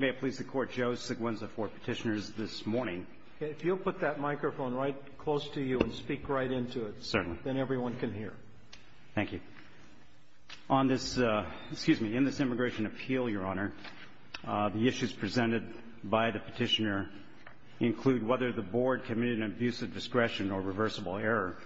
May it please the Court, Joe Seguin is the fourth petitioner this morning. If you'll put that microphone right close to you and speak right into it, then everyone can hear. Thank you. On this, excuse me, in this Immigration Appeal, Your Honor, the issues presented by the petitioner include whether the Board committed an abuse of discretion or reversible error.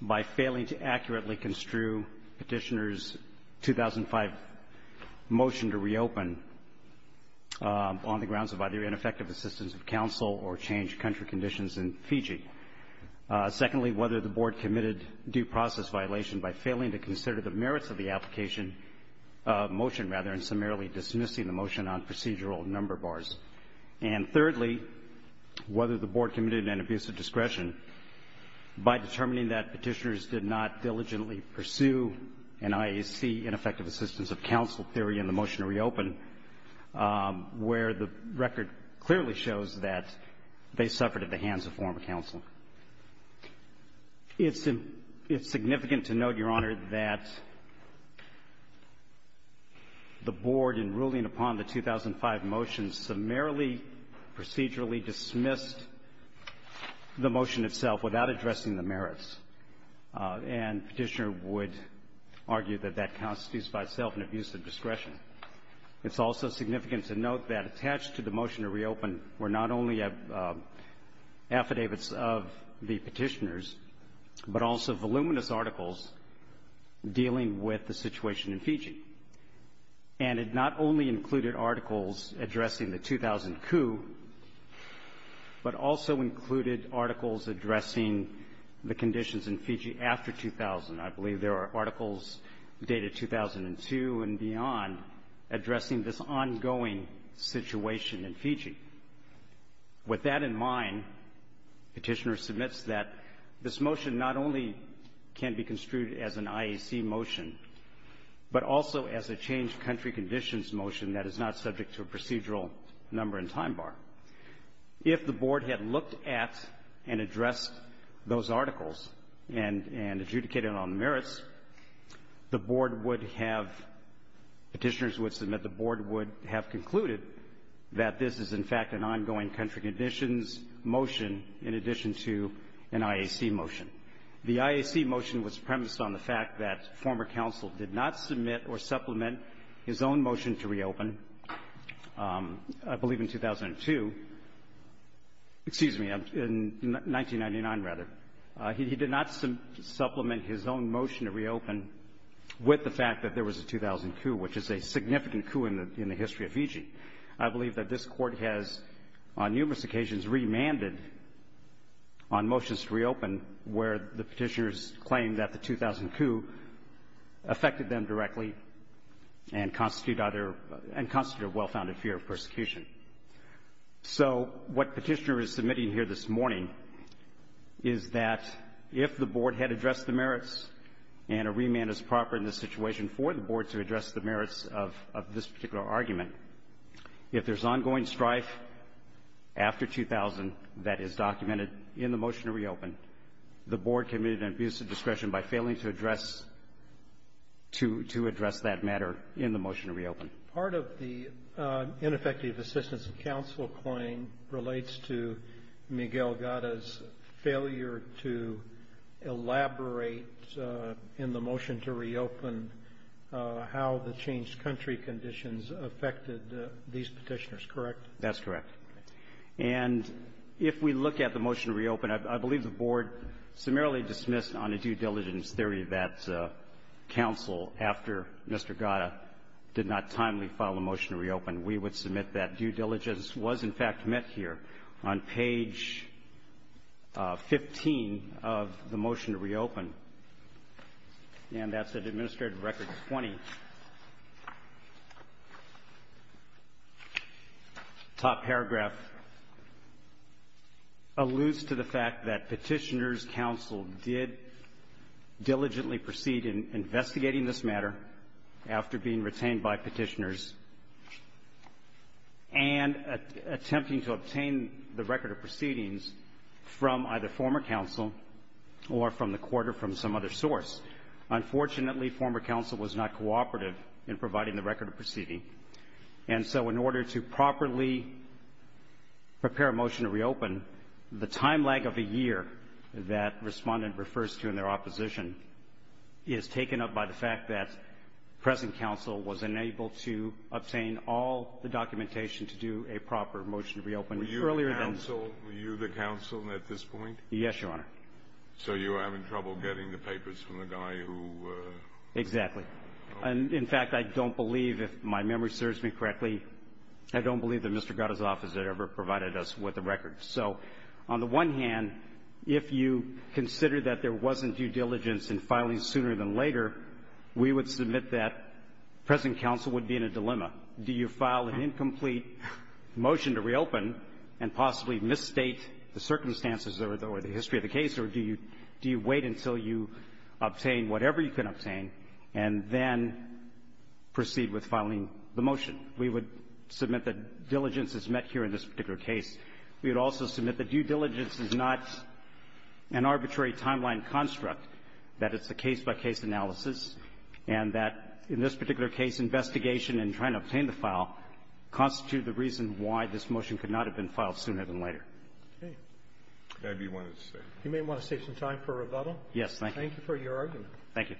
by failing to accurately construe petitioner's 2005 motion to reopen on the grounds of either ineffective assistance of counsel or changed country conditions in Fiji. Secondly, whether the Board committed due process violation by failing to consider the merits of the application, motion rather, and summarily dismissing the motion on procedural number bars. And thirdly, whether the Board committed an abuse of discretion by determining that petitioners did not diligently pursue an IAC ineffective assistance of counsel theory in the motion to reopen, where the record clearly shows that they suffered at the hands of former counsel. It's significant to note, Your Honor, that the Board, in ruling upon the 2005 motion, summarily procedurally dismissed the motion itself without addressing the merits. And petitioner would argue that that constitutes by itself an abuse of discretion. It's also significant to note that attached to the motion to reopen were not only affidavits of the petitioners, but also voluminous articles dealing with the situation in Fiji. And it not only included articles addressing the 2000 coup, but also included articles addressing the conditions in Fiji after 2000. I believe there are articles dated 2002 and beyond addressing this ongoing situation in Fiji. With that in mind, petitioner submits that this motion not only can be construed as an IAC motion, but also as a changed country conditions motion that is not subject to a procedural number and time bar. If the Board had looked at and addressed those articles and adjudicated on merits, the Board would have, petitioners would submit, the Board would have concluded that this is, in fact, an ongoing country conditions motion in addition to an IAC motion. The IAC motion was premised on the fact that former counsel did not submit or supplement his own motion to reopen, I believe in 2002, excuse me, in 1999, rather. He did not supplement his own motion to reopen with the fact that there was a 2000 coup, which is a significant coup in the history of Fiji. I believe that this Court has, on numerous occasions, remanded on motions to reopen where the petitioners claimed that the 2000 coup affected them directly and constituted a well-founded fear of persecution. So what petitioner is submitting here this morning is that if the Board had addressed the merits and a remand is proper in this situation for the Board to address the merits of this particular argument, if there's ongoing strife after 2000 that is documented in the motion to reopen, the Board committed an abuse of discretion by failing to address that matter in the motion to reopen. Part of the ineffective assistance of counsel point relates to Miguel Gatta's failure to elaborate in the motion to reopen how the changed country conditions affected these petitioners, correct? That's correct. And if we look at the motion to reopen, I believe the Board summarily dismissed on a due diligence theory that counsel, after Mr. Gatta did not timely file a motion to reopen, we would submit that due diligence was, in fact, met here. On page 15 of the motion to reopen, and that's at Administrative Record 20, top paragraph alludes to the fact that petitioners' counsel did diligently proceed in investigating this matter after being retained by petitioners and attempting to obtain the record of proceedings from either former counsel or from the court or from some other source. Unfortunately, former counsel was not cooperative in providing the record of proceedings, and so in order to properly prepare a motion to reopen, the time lag of a year that respondent refers to in their opposition is taken up by the fact that present counsel was unable to obtain all the documentation to do a proper motion to reopen earlier than... Were you the counsel at this point? Yes, Your Honor. So you were having trouble getting the papers from the guy who... Exactly. In fact, I don't believe, if my memory serves me correctly, I don't believe that Mr. Gatta's office had ever provided us with the record. So on the one hand, if you consider that there wasn't due diligence in filing sooner than later, we would submit that present counsel would be in a dilemma. Do you file an incomplete motion to reopen and possibly misstate the circumstances or the history of the case, or do you wait until you obtain whatever you can obtain and then proceed with filing the motion? We would submit that diligence is met here in this particular case. We would also submit that due diligence is not an arbitrary timeline construct, that it's a case-by-case analysis, and that in this particular case, investigation and trying to obtain the file constitute the reason why this motion could not have been filed sooner than later. Okay. That's what I wanted to say. You may want to save some time for rebuttal. Yes. Thank you. Thank you for your argument. Thank you.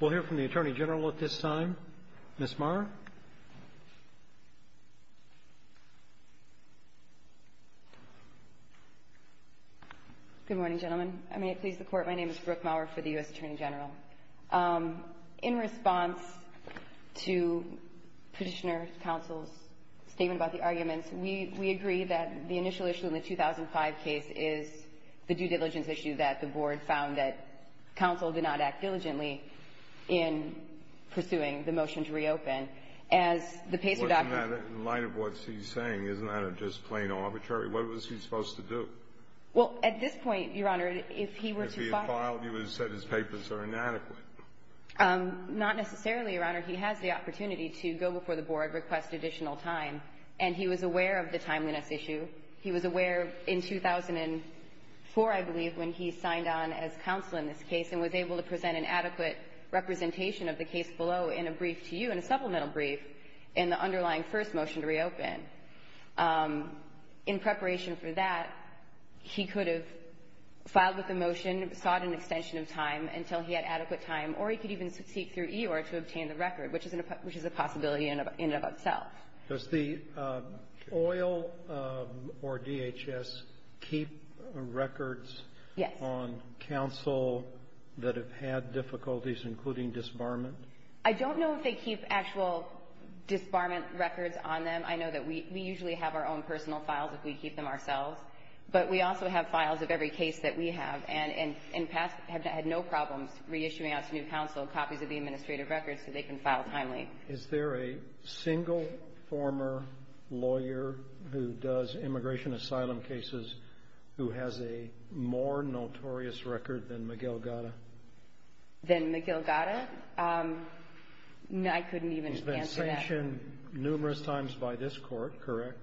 We'll hear from the Attorney General. Good morning, gentlemen. I may please the Court. My name is Brooke Maurer for the U.S. Attorney General. In response to Petitioner Counsel's statement about the arguments, we agree that the initial issue in the 2005 case is the due diligence issue that the Board found that counsel did not act diligently in pursuing the motion to reopen. As the PACER document ---- In light of what she's saying, isn't that a just plain arbitrary? What was he supposed to do? Well, at this point, Your Honor, if he were to file ---- If he had filed, he would have said his papers are inadequate. Not necessarily, Your Honor. He has the opportunity to go before the Board, request additional time, and he was aware of the timeliness issue. He was aware in 2004, I believe, when he signed on as counsel in this case and was able to present an adequate representation of the case below in a brief to you, in a supplemental brief, in the underlying first motion to reopen. In preparation for that, he could have filed with the motion, sought an extension of time until he had adequate time, or he could even seek through EOR to obtain the record, which is a possibility in and of itself. Does the oil or DHS keep records on counsel that have had difficulties, including disbarment? I don't know if they keep actual disbarment records on them. I know that we usually have our own personal files if we keep them ourselves, but we also have files of every case that we have, and in past have had no problems reissuing out to new counsel copies of the administrative records so they can file timely. Is there a single former lawyer who does immigration asylum cases who has a more notorious record than McGill-Gatta? Than McGill-Gatta? I couldn't even answer that. He's been sanctioned numerous times by this Court, correct?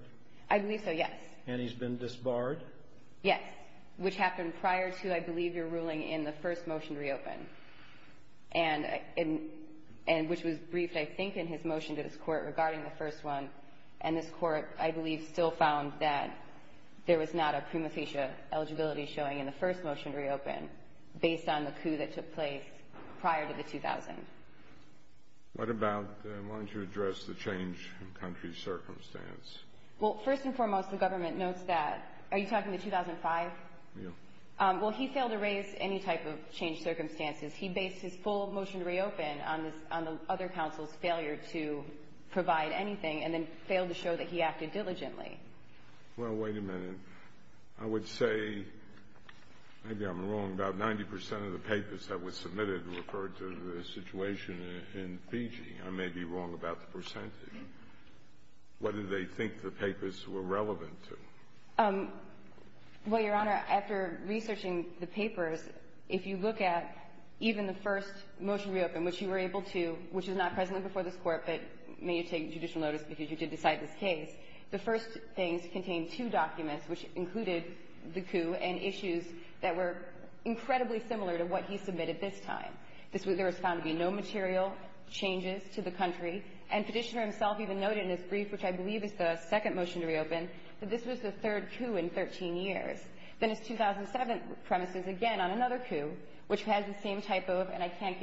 I believe so, yes. And he's been disbarred? Yes, which happened prior to, I believe, your ruling in the first motion to reopen, which was briefed, I think, in his motion to this Court regarding the first one. And this Court, I believe, still found that there was not a prima facie eligibility showing in the first motion to reopen based on the coup that took place prior to the 2000. What about, why don't you address the change in country's circumstance? Well, first and foremost, the government notes that, are you talking the 2005? Yes. Well, he failed to raise any type of changed circumstances. He based his full motion to reopen on the other counsel's failure to provide anything and then failed to show that he acted diligently. Well, wait a minute. I would say, maybe I'm wrong, about 90 percent of the papers that were submitted referred to the situation in Fiji. I may be wrong about the percentage. What did they think the papers were relevant to? Well, Your Honor, after researching the papers, if you look at even the first motion to reopen, which you were able to, which was not presently before this Court, but may you take judicial notice because you did decide this case, the first things contained two documents, which included the coup and issues that were incredibly similar to what he submitted this time. There was found to be no material changes to the country. And Petitioner himself even noted in his brief, which I believe is the second motion to reopen, that this was the third coup in 13 years. Then his 2007 premise is again on another coup, which has the same typo of, and I can't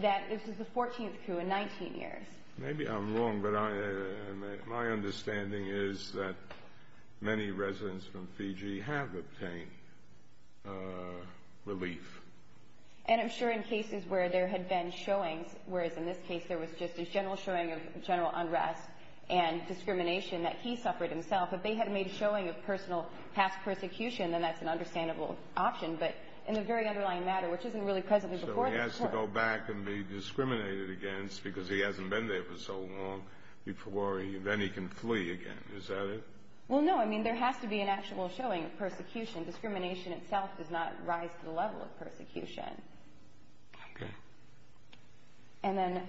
that this is the 14th coup in 19 years. Maybe I'm wrong, but my understanding is that many residents from Fiji have obtained relief. And I'm sure in cases where there had been showings, whereas in this case there was just a general showing of general unrest and discrimination that he suffered himself, if they had made a showing of personal past persecution, then that's an understandable option. But in the very underlying matter, which isn't really presently before this Court to go back and be discriminated against because he hasn't been there for so long, then he can flee again. Is that it? Well, no. I mean, there has to be an actual showing of persecution. Discrimination itself does not rise to the level of persecution. Okay. And then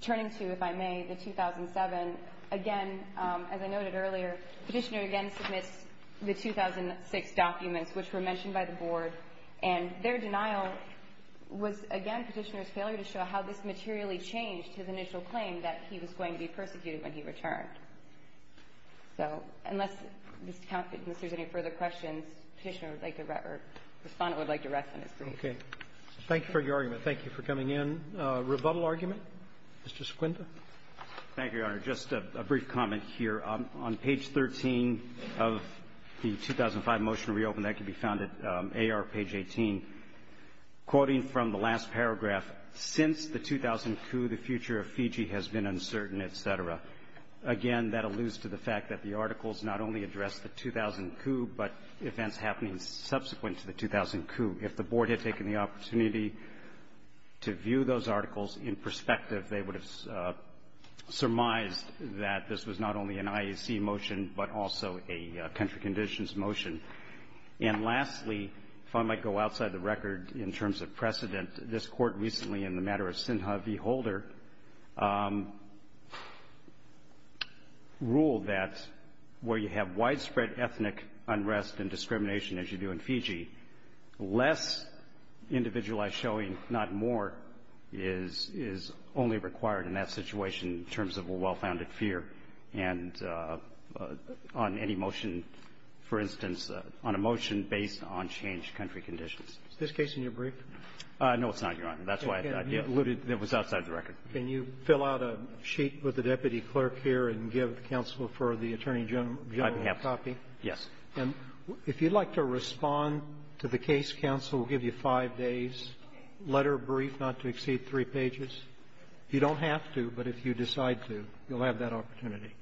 turning to, if I may, the 2007, again, as I noted earlier, Petitioner again submits the 2006 documents, which were mentioned by the Board, and their denial was, again, Petitioner's failure to show how this materially changed his initial claim that he was going to be persecuted when he returned. So unless there's any further questions, Petitioner would like to rest or Respondent would like to rest on his brief. Okay. Thank you for your argument. Thank you for coming in. Rebuttal argument? Mr. Sequinda. Thank you, Your Honor. Just a brief comment here. On page 13 of the 2005 motion to reopen, that can be found at AR page 18. Quoting from the last paragraph, since the 2000 coup, the future of Fiji has been uncertain, et cetera. Again, that alludes to the fact that the articles not only address the 2000 coup, but events happening subsequent to the 2000 coup. If the Board had taken the opportunity to view those articles in perspective, they would have surmised that this was not only an IAC motion, but also a country conditions motion. And lastly, if I might go outside the record in terms of precedent, this Court recently in the matter of Sinha v. Holder ruled that where you have widespread ethnic unrest and discrimination, as you do in Fiji, less individualized showing, not more, is only required in that situation in terms of a well-founded fear. And on any motion, for instance, on a motion based on changed country conditions. Is this case in your brief? No, it's not, Your Honor. That's why I alluded. It was outside the record. Can you fill out a sheet with the deputy clerk here and give counsel for the attorney general a copy? Yes. And if you'd like to respond to the case, counsel will give you five days, letter brief, not to exceed three pages. You don't have to, but if you decide to, you'll have that opportunity.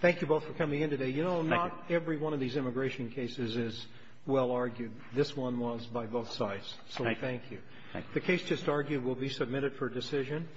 Thank you both for coming in today. Thank you. You know, not every one of these immigration cases is well argued. This one was by both sides. So thank you. Thank you. The case just argued will be submitted for decision.